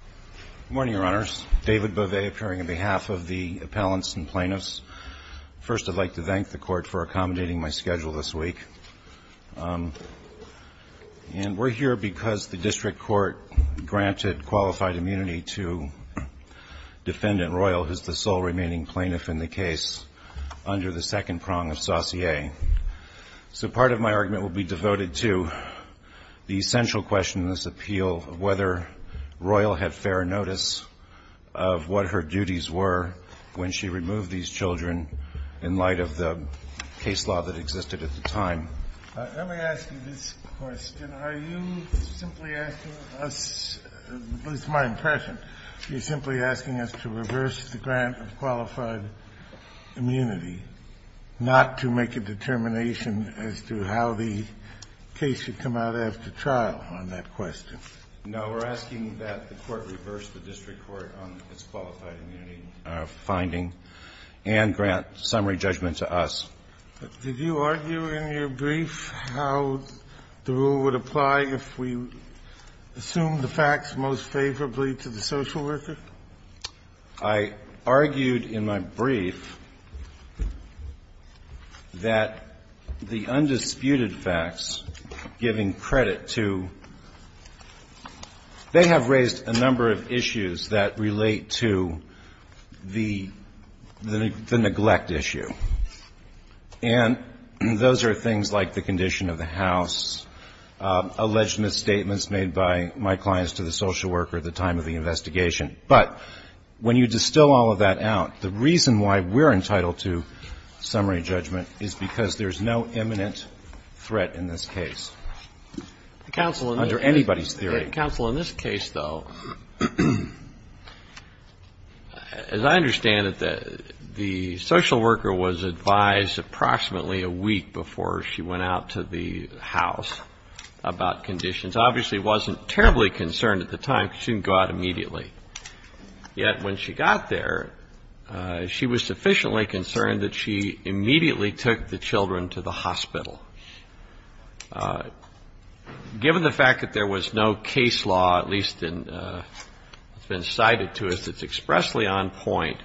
Good morning, Your Honors. David Bovet, appearing on behalf of the appellants and plaintiffs. First, I'd like to thank the Court for accommodating my schedule this week. And we're here because the district court granted qualified immunity to Defendant Royal, who's the sole remaining plaintiff in the case, under the second prong of saussure. So part of my argument will be devoted to the essential question in this appeal of whether Royal had fair notice of what her duties were when she removed these children in light of the case law that existed at the time. Let me ask you this question. Are you simply asking us, at least my impression, you're simply asking us to reverse the grant of qualified immunity, not to make a determination as to how the case should come out after trial on that question? No. We're asking that the Court reverse the district court on its qualified immunity finding and grant summary judgment to us. Did you argue in your brief how the rule would apply if we assumed the facts most favorably to the social worker? I argued in my brief that the undisputed facts, giving credit to they have raised a number of issues that relate to the neglect issue. And those are things like the condition of the house, alleged misstatements made by my clients to the social worker at the time of the investigation. But when you distill all of that out, the reason why we're entitled to summary judgment is because there's no imminent threat in this case under anybody's theory. Counsel, in this case, though, as I understand it, the social worker was advised approximately a week before she went out to the house about conditions. Obviously, she wasn't terribly concerned at the time because she didn't go out immediately. Yet when she got there, she was sufficiently concerned that she immediately took the children to the hospital. Given the fact that there was no case law, at least it's been cited to us, that's expressly on point,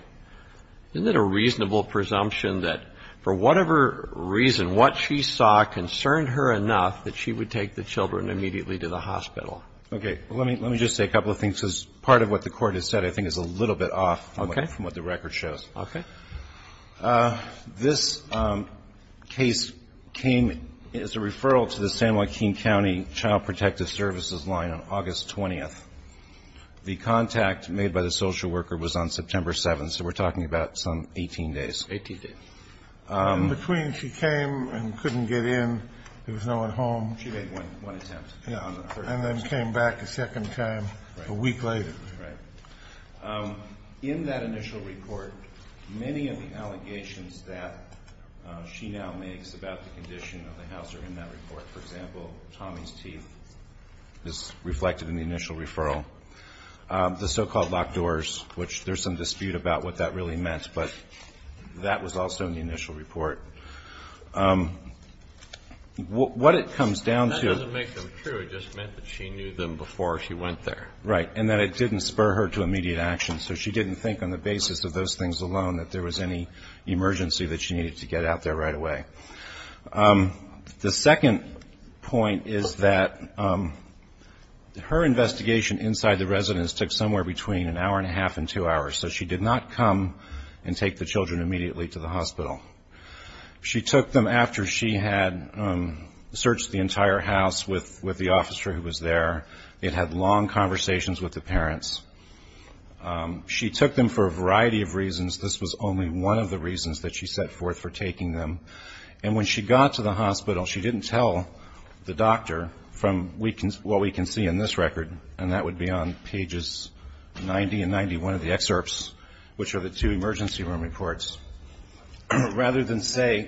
isn't it a reasonable presumption that for whatever reason what she saw concerned her enough that she would take the children immediately to the hospital? Okay. Well, let me just say a couple of things because part of what the Court has said I think is a little bit off from what the record shows. Okay. This case came as a referral to the San Joaquin County Child Protective Services line on August 20th. The contact made by the social worker was on September 7th, so we're talking about some 18 days. Eighteen days. And between she came and couldn't get in, there was no one home. She made one attempt. Yeah. And then came back a second time a week later. Right. In that initial report, many of the allegations that she now makes about the condition of the house are in that report. For example, Tommy's teeth is reflected in the initial referral. The so-called locked doors, which there's some dispute about what that really meant, but that was also in the initial report. What it comes down to That doesn't make them true. It just meant that she knew them before she went there. Right. And that it didn't spur her to immediate action. So she didn't think on the basis of those things alone that there was any emergency that she needed to get out there right away. The second point is that her investigation inside the residence took somewhere between an hour and a half and two hours. So she did not come and take the children immediately to the hospital. She took them after she had searched the entire house with the officer who was there. They had had long conversations with the parents. She took them for a variety of reasons. This was only one of the reasons that she set forth for taking them. And when she got to the hospital, she didn't tell the doctor from what we can see in this record. And that would be on pages 90 and 91 of the excerpts, which are the two emergency room reports. Rather than say,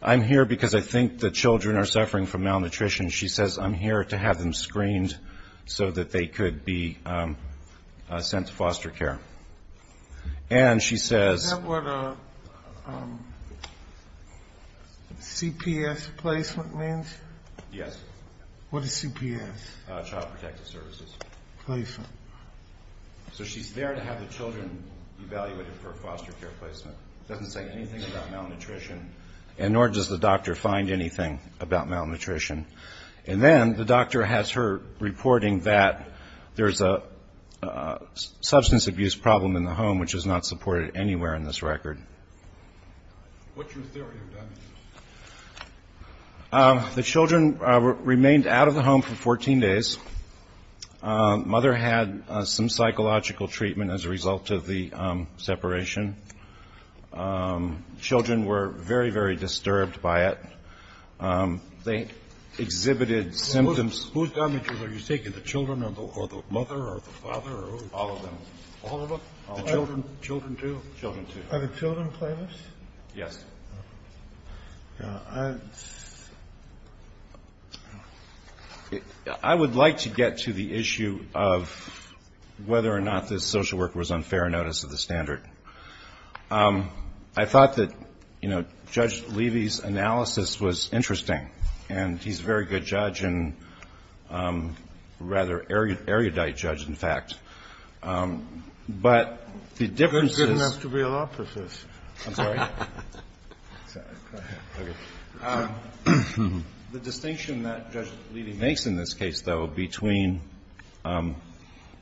I'm here because I think the children are suffering from malnutrition. She says, I'm here to have them screened so that they could be sent to foster care. And she says Is that what a CPS placement means? Yes. What is CPS? Child Protective Services. So she's there to have the children evaluated for a foster care placement. Doesn't say anything about malnutrition. And nor does the doctor find anything about malnutrition. And then the doctor has her reporting that there's a substance abuse problem in the home, which is not supported anywhere in this record. What's your theory of damage? The children remained out of the home for 14 days. Mother had some psychological treatment as a result of the separation. Children were very, very disturbed by it. They exhibited symptoms. Whose damages are you taking? The children or the mother or the father? All of them. All of them? The children? Children too? Children too. Are the children playlists? Yes. I would like to get to the issue of whether or not this social worker was on fair notice of the standard. I thought that, you know, Judge Levy's analysis was interesting. And he's a very good judge and a rather erudite judge, in fact. But the difference is You're good enough to be a law professor. I'm sorry? The distinction that Judge Levy makes in this case, though, between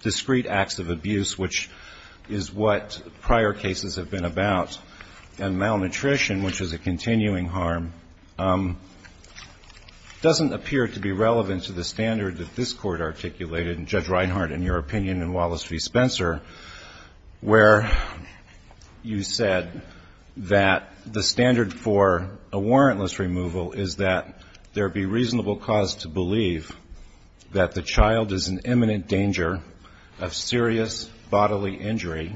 discreet acts of abuse, which is what prior cases have been about, and malnutrition, which is a continuing harm, doesn't appear to be relevant to the standard that this standard for a warrantless removal is that there be reasonable cause to believe that the child is in imminent danger of serious bodily injury,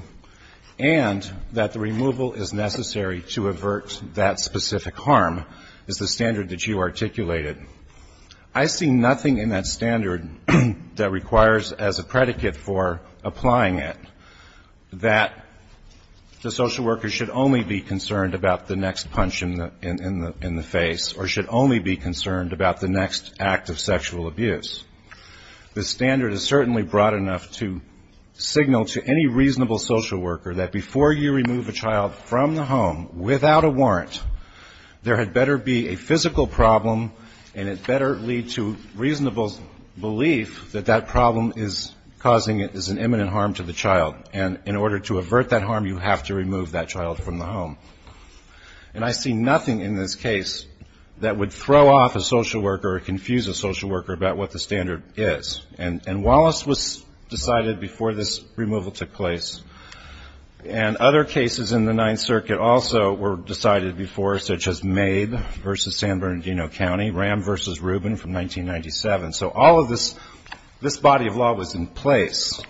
and that the removal is necessary to avert that specific harm, is the standard that you articulated. I see nothing in that standard that requires as a predicate for applying it that the social worker should only be on fair notice. They should only be concerned about the next punch in the face, or should only be concerned about the next act of sexual abuse. The standard is certainly broad enough to signal to any reasonable social worker that before you remove a child from the home without a warrant, there had better be a physical problem, and it better lead to reasonable belief that that problem is causing an imminent harm to the child. And in order to avert that harm, you have to remove that child from the home. And I see nothing in this case that would throw off a social worker or confuse a social worker about what the standard is. And Wallace was decided before this removal took place. And other cases in the Ninth Circuit also were decided before, such as Maid v. San Bernardino County, Ram v. Rubin from 1997. So all of this, this body of law was in place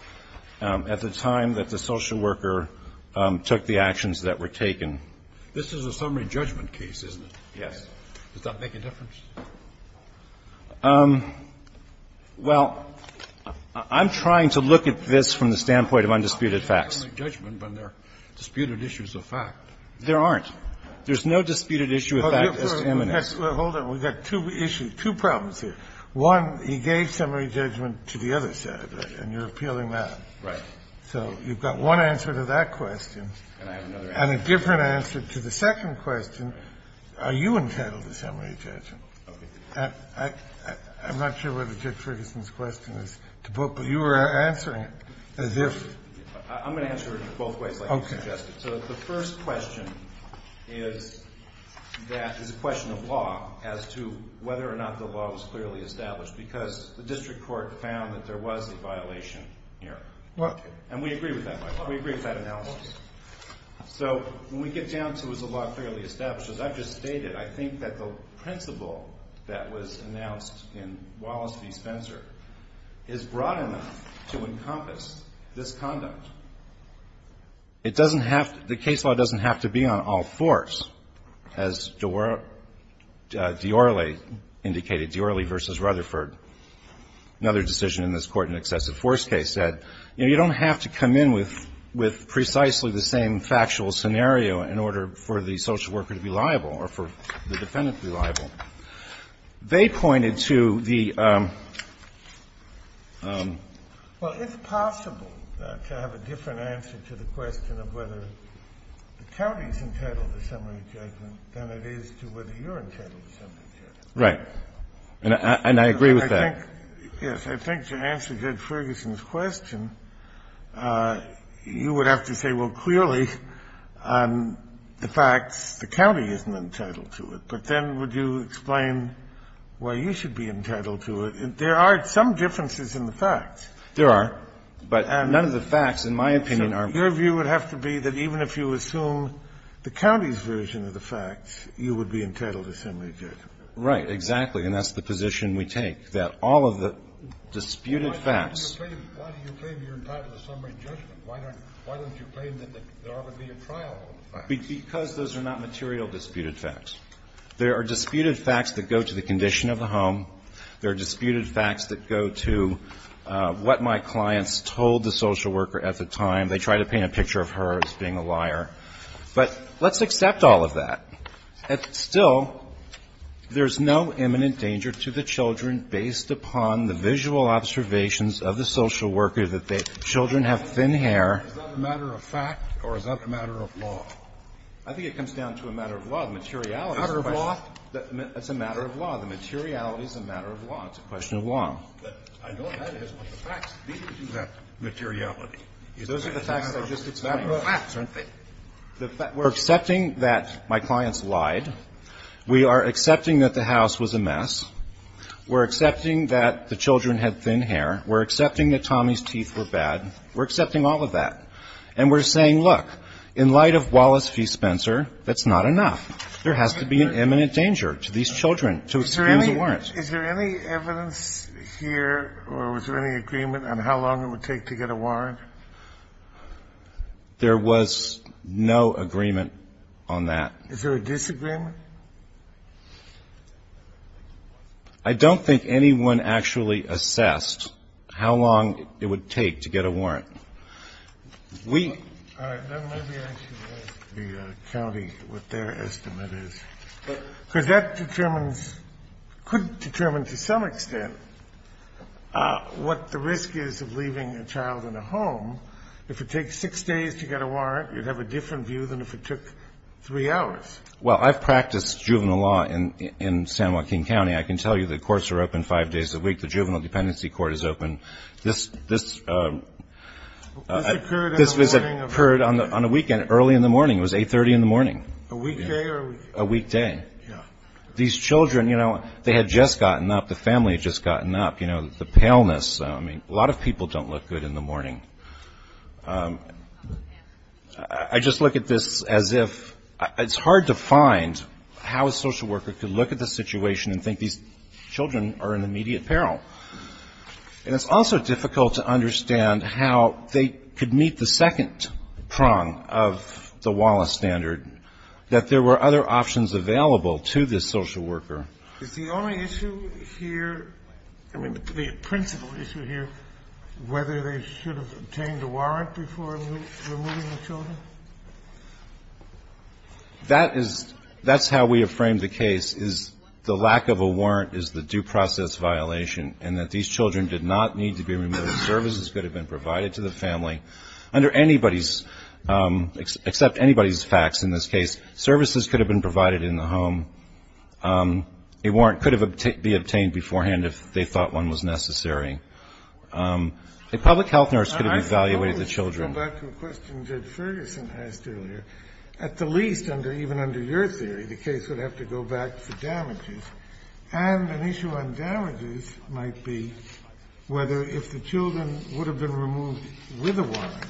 at the time that the social worker took the actions that were taken. This is a summary judgment case, isn't it? Yes. Does that make a difference? Well, I'm trying to look at this from the standpoint of undisputed facts. It's a summary judgment, but there are disputed issues of fact. There aren't. There's no disputed issue of fact that's imminent. Well, hold on. We've got two issues, two problems here. One, he gave summary judgment to the other side, and you're appealing that. Right. So you've got one answer to that question. And I have another answer. And a different answer to the second question. Are you entitled to summary judgment? Okay. I'm not sure whether Dick Ferguson's question is to both, but you were answering it as if. I'm going to answer it both ways like you suggested. Okay. So the first question is a question of law as to whether or not the law was clearly established because the district court found that there was a violation here. And we agree with that. We agree with that analysis. So when we get down to is the law clearly established, as I've just stated, I think that the principle that was announced in Wallace v. Spencer is broad enough to encompass this conduct. It doesn't have to be, the case law doesn't have to be on all fours. As Diorrele indicated, Diorrele v. Rutherford, another decision in this court in an excessive force case, said, you know, you don't have to come in with precisely the same factual scenario in order for the social worker to be liable or for the defendant to be liable. They pointed to the. Well, it's possible to have a different answer to the question of whether the county is entitled to summary judgment than it is to whether you're entitled to summary judgment. Right. And I agree with that. Yes. I think to answer Judge Ferguson's question, you would have to say, well, clearly the facts, the county isn't entitled to it. But then would you explain why you should be entitled to it? There are some differences in the facts. There are. But none of the facts, in my opinion, are. Your view would have to be that even if you assume the county's version of the facts, you would be entitled to summary judgment. Right, exactly. And that's the position we take, that all of the disputed facts. Why do you claim you're entitled to summary judgment? Why don't you claim that there ought to be a trial? Because those are not material disputed facts. There are disputed facts that go to the condition of the home. There are disputed facts that go to what my clients told the social worker at the time. They tried to paint a picture of her as being a liar. But let's accept all of that. Still, there's no imminent danger to the children based upon the visual observations of the social worker that the children have thin hair. Is that a matter of fact or is that a matter of law? I think it comes down to a matter of law. Materiality is a question. Matter of law? It's a matter of law. The materiality is a matter of law. It's a question of law. But I know that is what the facts lead to, that materiality. Those are the facts. It's a matter of fact, isn't it? We're accepting that my clients lied. We are accepting that the house was a mess. We're accepting that the children had thin hair. We're accepting that Tommy's teeth were bad. We're accepting all of that. And we're saying, look, in light of Wallace v. Spencer, that's not enough. There has to be an imminent danger to these children to expand the warrant. Is there any evidence here or was there any agreement on how long it would take to get a warrant? There was no agreement on that. Is there a disagreement? I don't think anyone actually assessed how long it would take to get a warrant. All right. Let me ask the county what their estimate is. Because that determines, could determine to some extent, what the risk is of leaving a child in a home. If it takes six days to get a warrant, you'd have a different view than if it took three hours. Well, I've practiced juvenile law in San Joaquin County. I can tell you the courts are open five days a week. The juvenile dependency court is open. This occurred on a weekend early in the morning. It was 830 in the morning. A weekday? A weekday. Yeah. These children, you know, they had just gotten up. The family had just gotten up. You know, the paleness. I mean, a lot of people don't look good in the morning. I just look at this as if it's hard to find how a social worker could look at the situation and think these children are in immediate peril. And it's also difficult to understand how they could meet the second prong of the Wallace standard, that there were other options available to this social worker. Is the only issue here, I mean, the principal issue here, whether they should have obtained a warrant before removing the children? That is, that's how we have framed the case, is the lack of a warrant is the due process violation, and that these children did not need to be removed. Services could have been provided to the family. Under anybody's, except anybody's facts in this case, services could have been provided in the home. A warrant could have been obtained beforehand if they thought one was necessary. A public health nurse could have evaluated the children. I want to go back to a question that Ferguson asked earlier. At the least, even under your theory, the case would have to go back to damages. And an issue on damages might be whether if the children would have been removed with a warrant,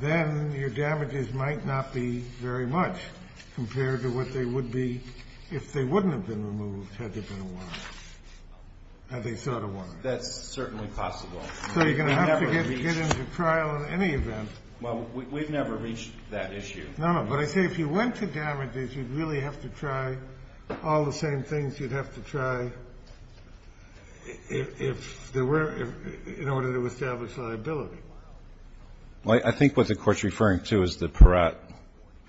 then your damages might not be very much compared to what they would be if they wouldn't have been removed had there been a warrant, had they sought a warrant. That's certainly possible. So you're going to have to get into trial in any event. Well, we've never reached that issue. No, no. But I say if you went to damages, you'd really have to try all the same things you'd have to try if there were, in order to establish liability. Well, I think what the Court's referring to is the Peratt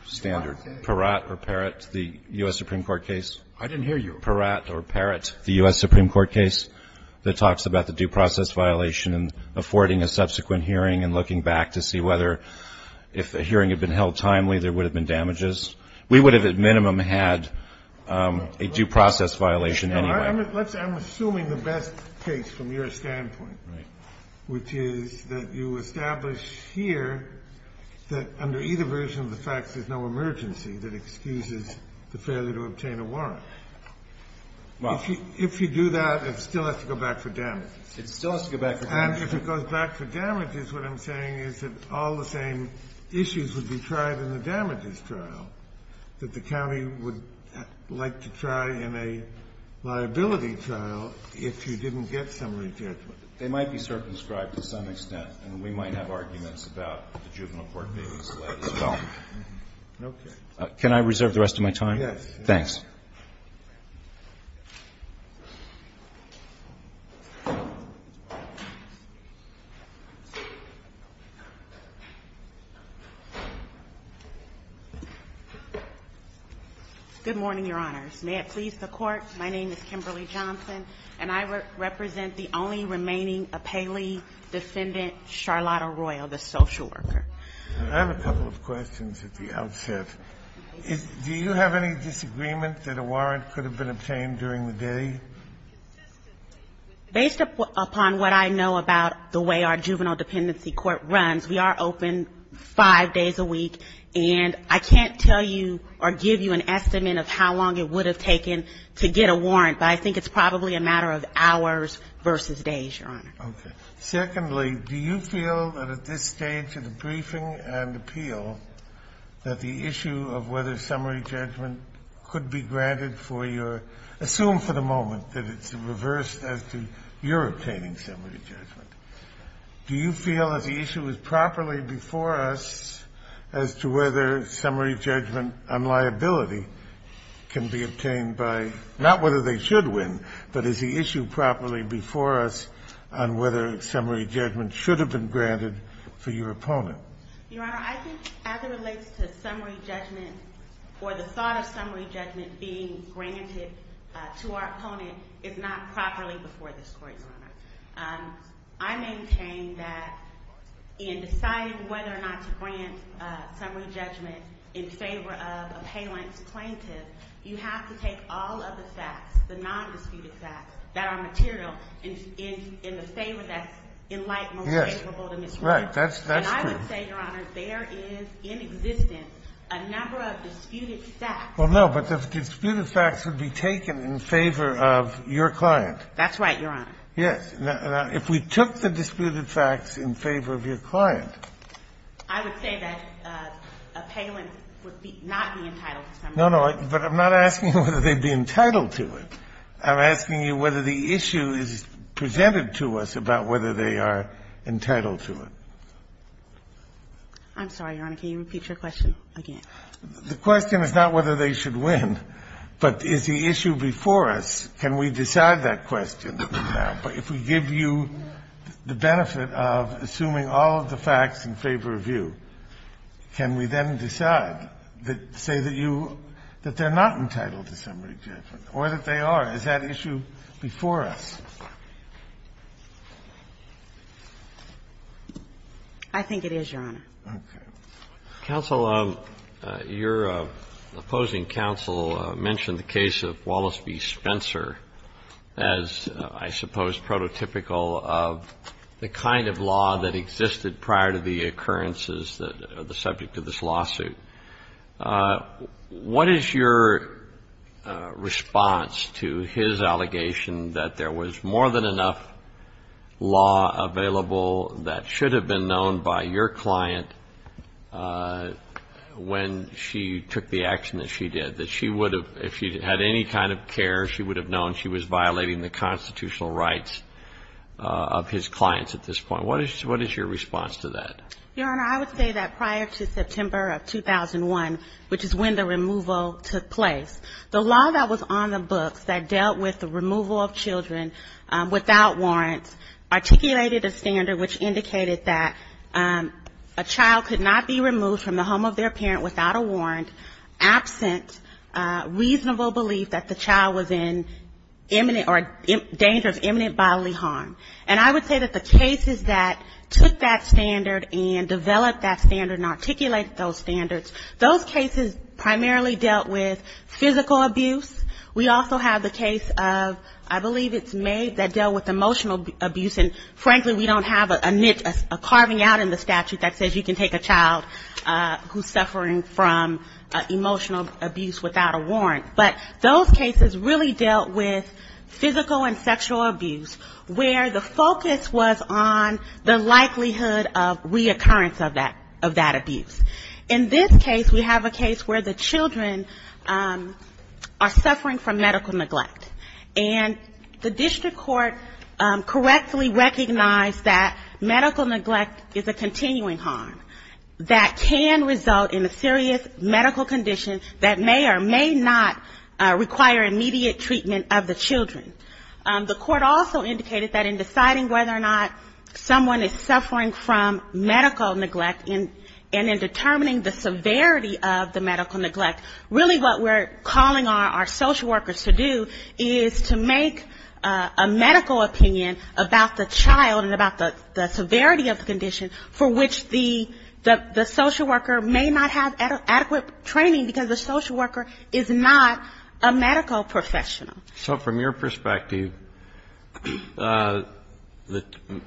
standard. Peratt or Peratt, the U.S. Supreme Court case. I didn't hear you. Peratt or Peratt, the U.S. Supreme Court case that talks about the due process violation and affording a subsequent hearing and looking back to see whether if a hearing had been held timely, there would have been damages. We would have at minimum had a due process violation anyway. I'm assuming the best case from your standpoint, which is that you establish here that under either version of the facts there's no emergency that excuses the failure to obtain a warrant. If you do that, it still has to go back to damages. It still has to go back to damages. And if it goes back to damages, what I'm saying is that all the same issues would be tried in the damages trial that the county would like to try in a liability trial if you didn't get somebody charged with it. They might be circumscribed to some extent, and we might have arguments about the juvenile court case as well. Okay. Can I reserve the rest of my time? Thanks. Ms. Johnson. Good morning, Your Honors. May it please the Court, my name is Kimberly Johnson, and I represent the only remaining appellee defendant, Charlotte Arroyo, the social worker. Do you have any disagreement that a warrant could have been obtained during the day? Based upon what I know about the way our juvenile dependency court runs, we are open five days a week, and I can't tell you or give you an estimate of how long it would have taken to get a warrant, but I think it's probably a matter of hours versus days, Your Honor. Okay. Secondly, do you feel that at this stage of the briefing and appeal that the issue of whether summary judgment could be granted for your assume for the moment that it's reversed as to your obtaining summary judgment? Do you feel that the issue is properly before us as to whether summary judgment on liability can be obtained by not whether they should win, but is the issue properly before us on whether summary judgment should have been granted for your opponent? Your Honor, I think as it relates to summary judgment or the thought of summary judgment being granted to our opponent, it's not properly before this Court, Your Honor. I maintain that in deciding whether or not to grant summary judgment in favor of appellant's plaintiff, you have to take all of the facts, the non-disputed facts that are material in the favor that's in light most favorable to Ms. Warren. Yes. Right. That's true. And I would say, Your Honor, there is in existence a number of disputed facts. Well, no, but the disputed facts would be taken in favor of your client. That's right, Your Honor. Yes. Now, if we took the disputed facts in favor of your client. I would say that appellant would not be entitled to summary judgment. But I'm not asking whether they'd be entitled to it. I'm asking you whether the issue is presented to us about whether they are entitled to it. I'm sorry, Your Honor. Can you repeat your question again? The question is not whether they should win, but is the issue before us. Can we decide that question now? If we give you the benefit of assuming all of the facts in favor of you, can we then decide that say that you that they're not entitled to summary judgment or that they are? Is that issue before us? I think it is, Your Honor. Okay. Counsel, your opposing counsel mentioned the case of Wallace v. Spencer as, I suppose, prototypical of the kind of law that existed prior to the occurrences that are the subject of this lawsuit. What is your response to his allegation that there was more than enough law available that should have been known by your client when she took the action that she did? That she would have, if she had any kind of care, she would have known she was violating the constitutional rights of his clients at this point. What is your response to that? Your Honor, I would say that prior to September of 2001, which is when the removal took place, the law that was on the books that dealt with the removal of children without warrants articulated a standard which indicated that a child could not be removed from the home of their parent without a warrant, absent reasonable belief that the child was in imminent or danger of imminent bodily harm. And I would say that the cases that took that standard and developed that standard and articulated those standards, those cases primarily dealt with physical abuse. We also have the case of, I believe it's May, that dealt with emotional abuse. And frankly, we don't have a carving out in the statute that says you can take a child who's suffering from emotional abuse without a warrant, but those cases really dealt with physical and sexual abuse, where the focus was on the likelihood of reoccurrence of that abuse. In this case, we have a case where the children are suffering from medical neglect. And the district court correctly recognized that medical neglect is a continuing harm that can result in a serious medical condition that may or may not require immediate treatment of the children. The court also indicated that in deciding whether or not someone is suffering from medical neglect and in determining the severity of the medical neglect, really what we're calling on our social workers to do is to make a medical opinion about the child and about the severity of the condition for which the social worker may not have adequate training because the social worker is not a medical professional. So from your perspective, the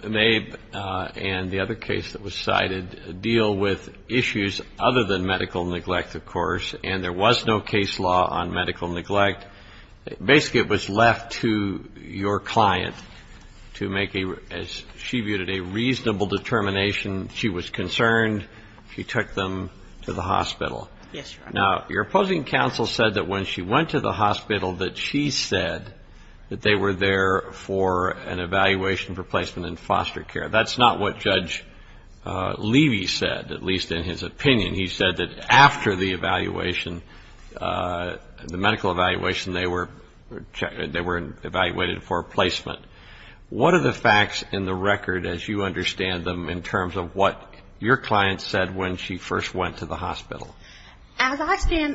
May and the other case that was cited deal with issues other than medical neglect, of course, and there was no case law on medical neglect. Basically, it was left to your client to make a, as she viewed it, a reasonable determination. She was concerned. She took them to the hospital. Now, your opposing counsel said that when she went to the hospital that she said that they were there for an evaluation for placement in foster care. That's not what Judge Levy said, at least in his opinion. He said that after the evaluation, the medical evaluation, they were evaluated for placement. What are the facts in the record as you understand them in terms of what your client said when she first went to the hospital? As I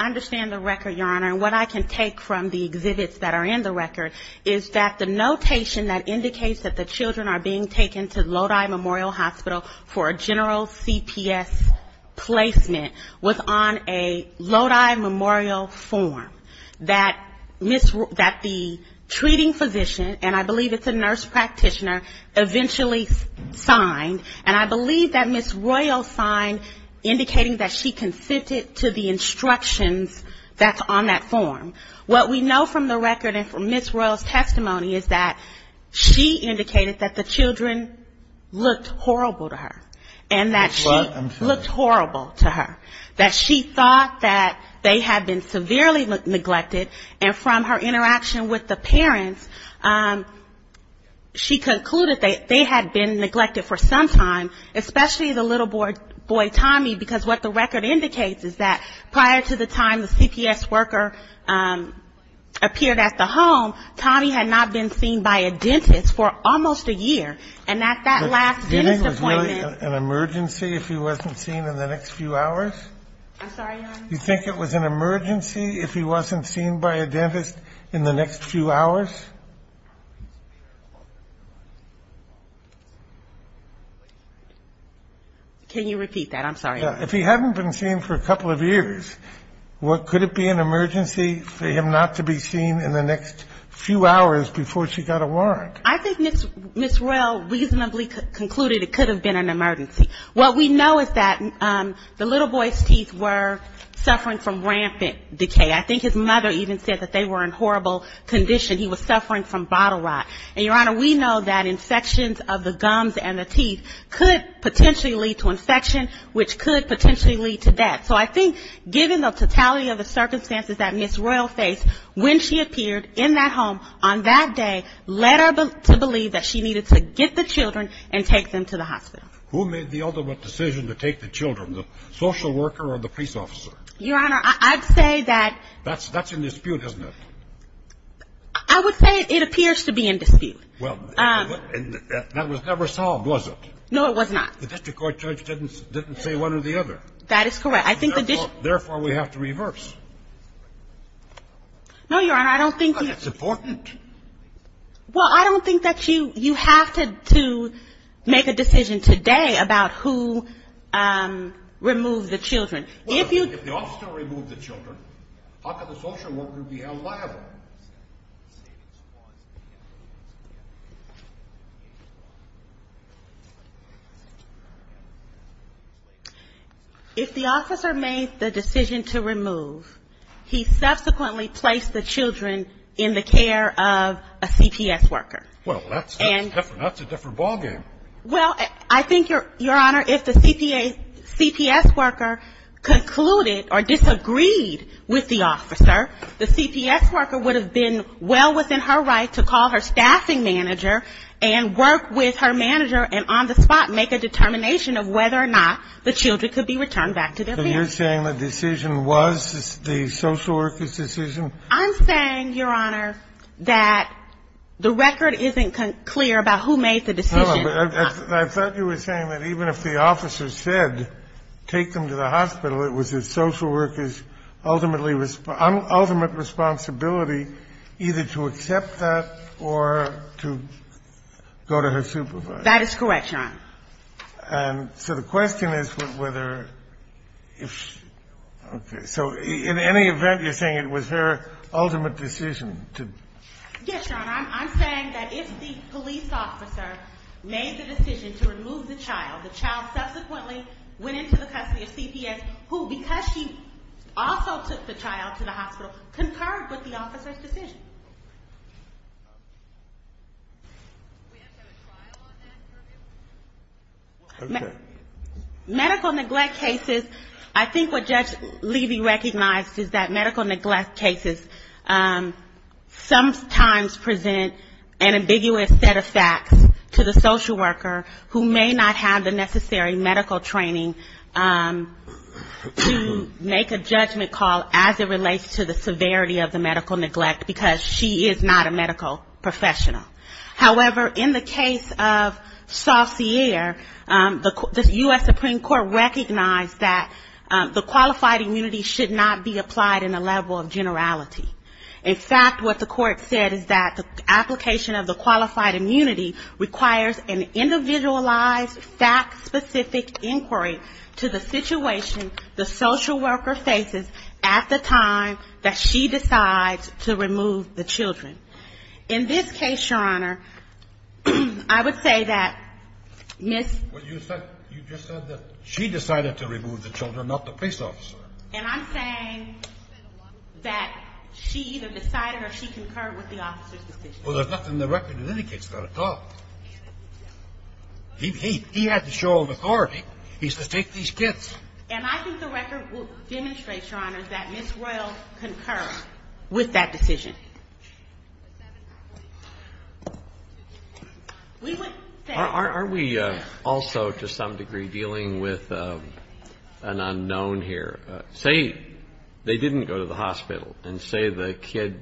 understand the record, Your Honor, and what I can take from the exhibits that are in the record, is that the notation that said placement was on a Lodi Memorial form that the treating physician, and I believe it's a nurse practitioner, eventually signed, and I believe that Ms. Royal signed indicating that she consented to the instructions that's on that form. What we know from the record and from Ms. Royal's testimony is that she indicated that the children looked horrible to her, and that she looked horrible to her, that she thought that they had been severely neglected, and from her interaction with the parents, she concluded that they had been neglected for some time, especially the little boy, Tommy, because what the record indicates is that prior to the time the CPS worker appeared at the home, Tommy had not been seen by a dentist for almost a year, and at that last dentist appointment ---- Do you think it was really an emergency if he wasn't seen in the next few hours? I'm sorry, Your Honor. Do you think it was an emergency if he wasn't seen by a dentist in the next few hours? Can you repeat that? I'm sorry. If he hadn't been seen for a couple of years, could it be an emergency for him not to be seen in the next few hours before she got a warrant? I think Ms. Royal reasonably concluded it could have been an emergency. What we know is that the little boy's teeth were suffering from rampant decay. I think his mother even said that they were in horrible condition. He was suffering from bottle rot. And, Your Honor, we know that infections of the gums and the teeth could potentially lead to infection, which could potentially lead to death. So I think given the totality of the circumstances that Ms. Royal faced, when she appeared in that home on that day led her to believe that she needed to get the children and take them to the hospital. Who made the ultimate decision to take the children, the social worker or the police officer? Your Honor, I'd say that ---- Well, that was never solved, was it? No, it was not. The district court judge didn't say one or the other. That is correct. I think the district ---- No, Your Honor, I don't think ---- If the officer made the decision to remove, he subsequently placed the children in the care of a CPS worker. Well, that's a different ballgame. Well, I think, Your Honor, if the CPS worker concluded or disagreed with the officer, the CPS worker would have been well within her right to call her staffing manager and work with her manager and on the spot make a determination of whether or not the children could be returned back to their parents. So you're saying the decision was the social worker's decision? I'm saying, Your Honor, that the record isn't clear about who made the decision. No, but I thought you were saying that even if the officer said take them to the hospital, it was the social worker's ultimate responsibility either to accept that or to go to her supervisor. That is correct, Your Honor. And so the question is whether ---- okay. So in any event, you're saying it was her ultimate decision to ---- Yes, Your Honor. I'm saying that if the police officer made the decision to remove the child, the child subsequently went into the custody of CPS who, because she also took the child to the hospital, concurred with the officer's decision. Medical neglect cases, I think what Judge Levy recognized is that medical neglect cases sometimes present an ambiguous set of facts to the social worker who may not have the necessary medical training to make a judgment call as it relates to the severity of the medical neglect, because she is not a medical professional. However, in the case of Saucier, the U.S. Supreme Court recognized that the qualified immunity should not be applied in a level of generality. In fact, what the court said is that the application of the qualified immunity requires an individualized, fact-specific inquiry to the situation the social worker faces at the time that she decides to remove the children. In this case, Your Honor, I would say that Ms. ---- Well, you just said that she decided to remove the children, not the police officer. And I'm saying that she either decided or she concurred with the officer's decision. Well, there's nothing in the record that indicates that at all. He had the show of authority. He says, take these kids. And I think the record will demonstrate, Your Honor, that Ms. Royal concurred with that decision. Are we also, to some degree, dealing with an unknown here? Say they didn't go to the hospital, and say the kid,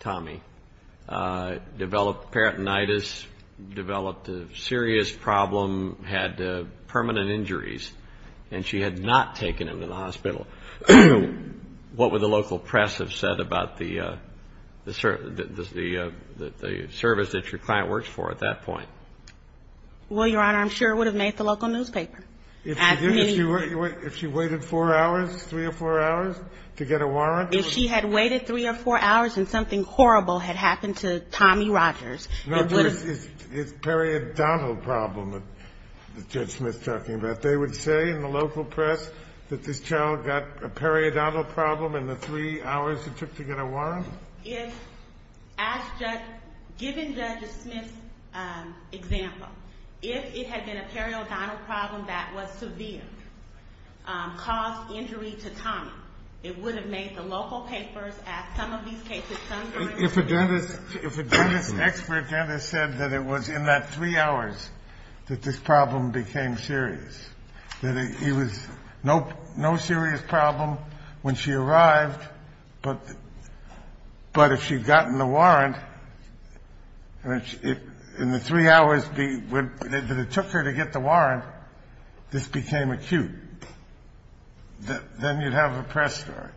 Tommy, developed peritonitis, developed a serious problem, had permanent injuries, and she had not taken him to the hospital. What would the local press have said about the service that your client works for at that point? Well, Your Honor, I'm sure it would have made the local newspaper. If she had waited three or four hours to get a warrant? If she had waited three or four hours and something horrible had happened to Tommy Rogers. No, but it's a periodontal problem that Judge Smith's talking about. They would say in the local press that this child got a periodontal problem in the three hours it took to get a warrant? Given Judge Smith's example, if it had been a periodontal problem that was severe, it would have made the local papers ask some of these cases. If a dentist's expert dentist said that it was in that three hours that this problem became serious, that it was no serious problem when she arrived, but if she had gotten the warrant, in the three hours that it took her to get the warrant, this became acute. Then you'd have a press story.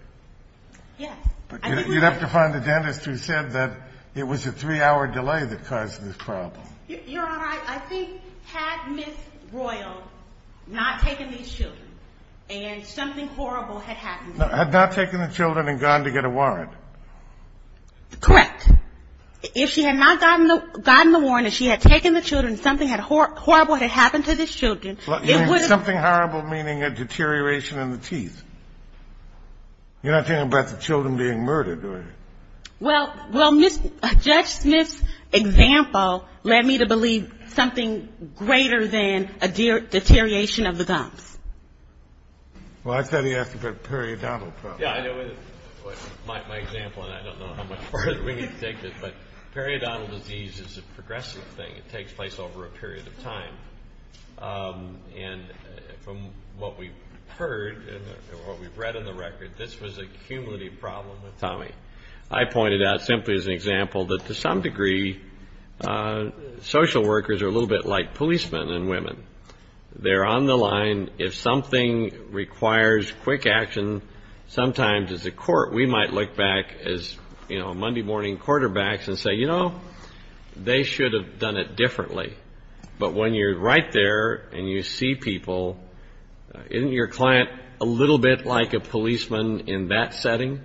You'd have to find a dentist who said that it was a three-hour delay that caused this problem. Your Honor, I think had Ms. Royal not taken these children and something horrible had happened to them. Had not taken the children and gone to get a warrant? Correct. If she had not gotten the warrant and she had taken the children and something horrible had happened to the children, it would have... Something horrible meaning a deterioration in the teeth. You're not talking about the children being murdered, are you? Well, Judge Smith's example led me to believe something greater than a deterioration of the gums. Well, I thought he asked about periodontal problems. Yeah, I know. My example, and I don't know how much further we can take this, but periodontal disease is a progressive thing. It takes place over a period of time. From what we've heard and what we've read in the record, this was a cumulative problem with Tommy. I pointed out simply as an example that to some degree, social workers are a little bit like policemen and women. They're on the line. If something requires quick action, sometimes as a court we might look back as Monday morning quarterbacks and say, well, that's what we did differently. But when you're right there and you see people, isn't your client a little bit like a policeman in that setting?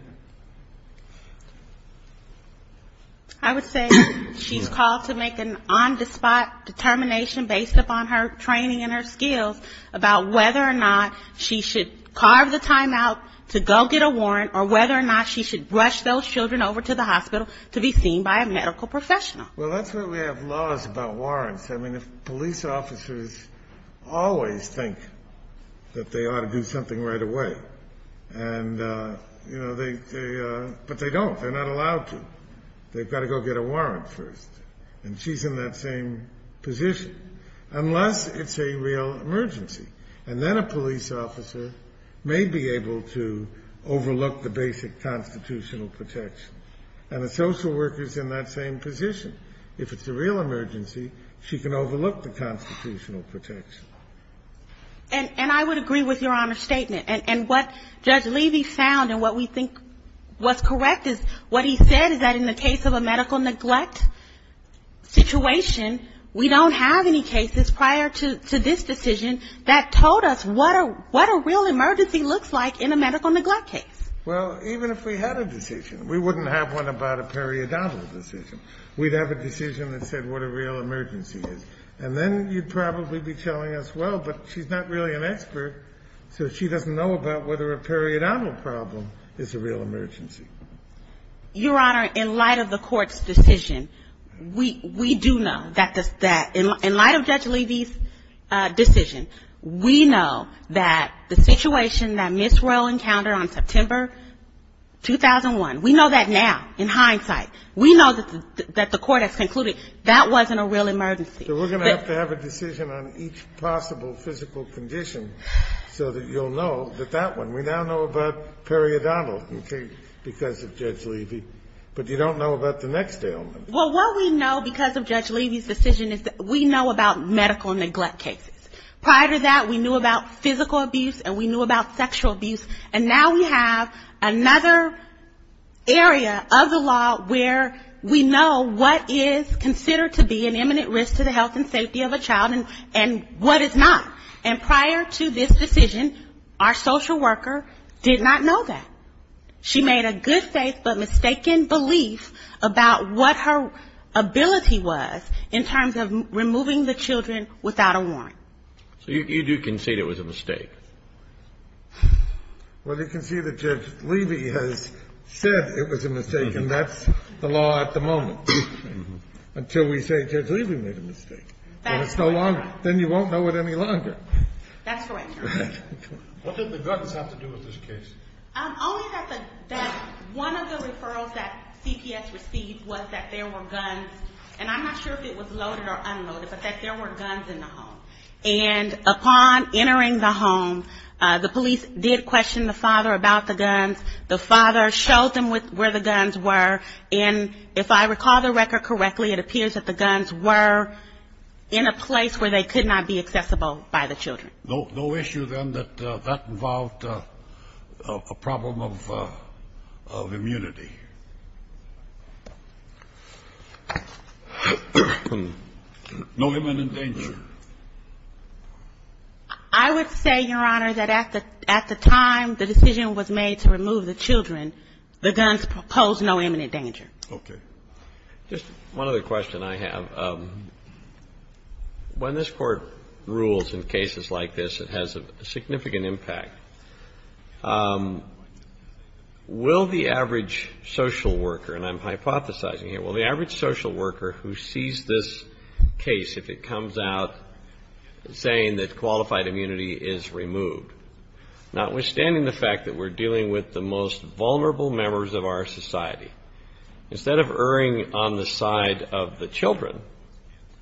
I would say she's called to make an on-the-spot determination based upon her training and her skills about whether or not she should carve the time out to go get a warrant or whether or not she should rush those children over to the hospital to be seen by a medical professional. Well, that's why we have laws about warrants. I mean, police officers always think that they ought to do something right away, but they don't. They're not allowed to. They've got to go get a warrant first, and she's in that same position, unless it's a real emergency. And then a police officer may be able to overlook the basic constitutional protection. And a social worker's in that same position. If it's a real emergency, she can overlook the constitutional protection. And I would agree with Your Honor's statement. And what Judge Levy found and what we think was correct is what he said is that in the case of a medical neglect situation, we don't have any cases prior to this decision that told us what a real emergency looks like in a medical neglect case. Well, even if we had a decision, we wouldn't have one about a periodontal decision. We'd have a decision that said what a real emergency is. And then you'd probably be telling us, well, but she's not really an expert, so she doesn't know about whether a periodontal problem is a real emergency. Your Honor, in light of the Court's decision, we do know that in light of Judge Levy's decision, we know that the situation that Ms. Roehl encountered on September 9th was a medical negligence. And that was September 2001. We know that now, in hindsight. We know that the Court has concluded that wasn't a real emergency. So we're going to have to have a decision on each possible physical condition so that you'll know that that one. We now know about periodontal because of Judge Levy, but you don't know about the next ailment. Well, what we know because of Judge Levy's decision is that we know about medical neglect cases. Prior to that, we knew about physical abuse and we knew about sexual abuse. And now we have another area of the law where we know what is considered to be an imminent risk to the health and safety of a child and what is not. And prior to this decision, our social worker did not know that. She made a good faith but mistaken belief about what her ability was in terms of removing the children without a warrant. So you do concede it was a mistake? Well, you can see that Judge Levy has said it was a mistake, and that's the law at the moment. Until we say Judge Levy made a mistake. What did the guns have to do with this case? Only that one of the referrals that CPS received was that there were guns, and I'm not sure if it was loaded or unloaded, but that there were guns in the home. And upon entering the home, the police did question the father about the guns. The father showed them where the guns were, and if I recall the record correctly, it appears that the guns were in a place where they could not be accessible by the children. No issue then that that involved a problem of immunity? No imminent danger. I would say, Your Honor, that at the time the decision was made to remove the children, the guns posed no imminent danger. Okay. Just one other question I have. When this Court rules in cases like this, it has a significant impact. Will the average social worker, and I'm hypothesizing here, will the average social worker who sees this case, if it comes out saying that qualified immunity is removed, notwithstanding the fact that we're dealing with the most vulnerable members of our society, instead of erring on the side of the children,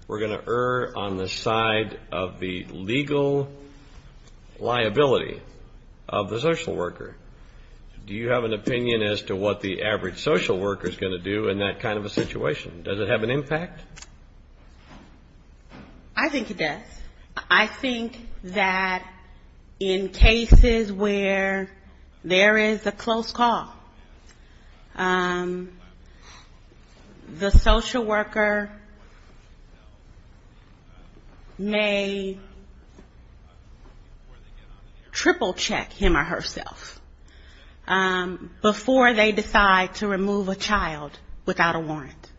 we're going to err on the side of the legal liability of the social worker? Do you have an opinion as to what the average social worker is going to do in that kind of a situation? Does it have an impact? I think it does. I think that in cases where there is a close call, the social worker may triple check him or herself before they decide to remove a child without a warrant.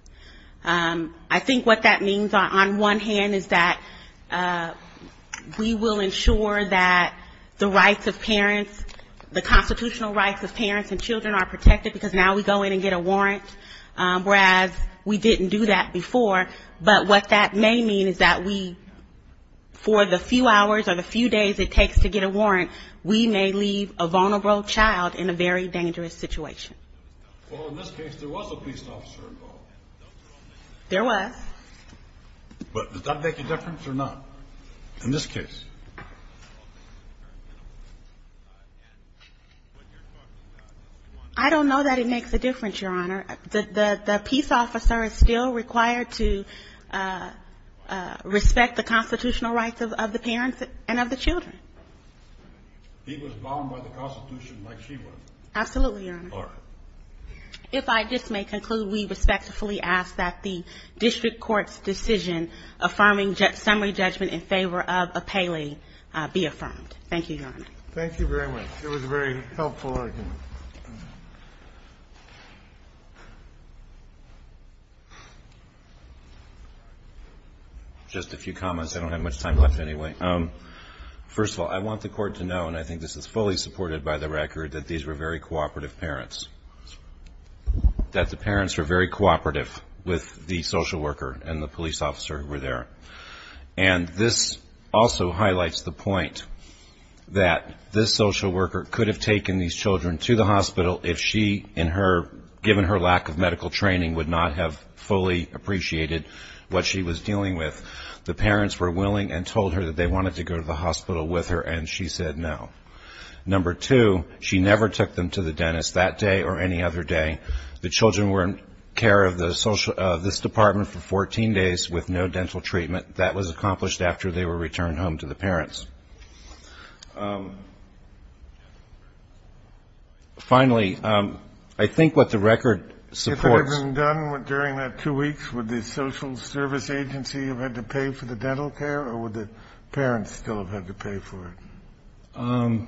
I think what that means on one hand is that we will ensure that the rights of parents, the constitutional rights of parents and children are protected because now we go in and get a warrant, whereas we didn't do that before. But what that may mean is that we, for the few hours or the few days it takes to get a warrant, we may leave a vulnerable child in a very dangerous situation. Well, in this case, there was a police officer involved. There was. But does that make a difference or not in this case? I don't know that it makes a difference, Your Honor. The peace officer is still required to respect the constitutional rights of the parents and of the children. He was bound by the Constitution like she was. Absolutely, Your Honor. If I just may conclude, we respectfully ask that the district court's decision affirming summary judgment in favor of appellee be affirmed. Thank you, Your Honor. Thank you very much. It was very helpful, I think. Just a few comments. I don't have much time left anyway. First of all, I want the court to know, and I think this is fully supported by the record, that these were very cooperative parents, that the parents were very cooperative with the social worker and the police officer who were there. And this also highlights the point that this social worker could have taken these children to the hospital if she, given her lack of medical training, would not have fully appreciated what she was dealing with. The parents were willing and told her that they wanted to go to the hospital with her, and she said no. Number two, she never took them to the dentist that day or any other day. The children were in care of this department for 14 days with no dental treatment. That was accomplished after they were returned home to the parents. Finally, I think what the record supports ---- Would the social service agency have had to pay for the dental care, or would the parents still have had to pay for it?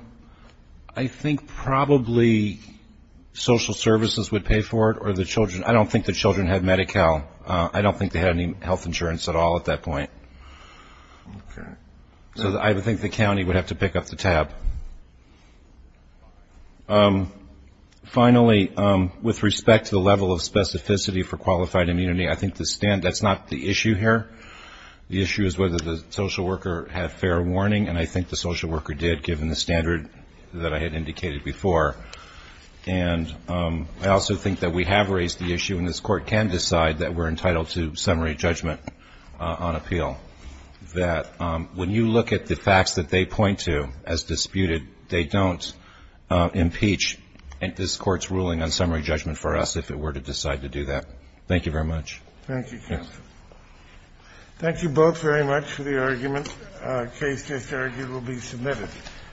I think probably social services would pay for it, or the children. I don't think the children had Medi-Cal. I don't think they had any health insurance at all at that point. So I think the county would have to pick up the tab. Finally, with respect to the level of specificity for qualified immunity, I think that's not the issue here. The issue is whether the social worker had fair warning, and I think the social worker did, given the standard that I had indicated before. And I also think that we have raised the issue, and this Court can decide that we're entitled to summary judgment on appeal, that when you look at the facts that they point to as disputed, they don't impeach this Court's ruling on summary judgment for us if it were to decide to do that. Thank you very much. Thank you, counsel. Thank you both very much for the argument. The case just argued will be submitted.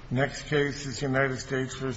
The next case is United States v. Coconus.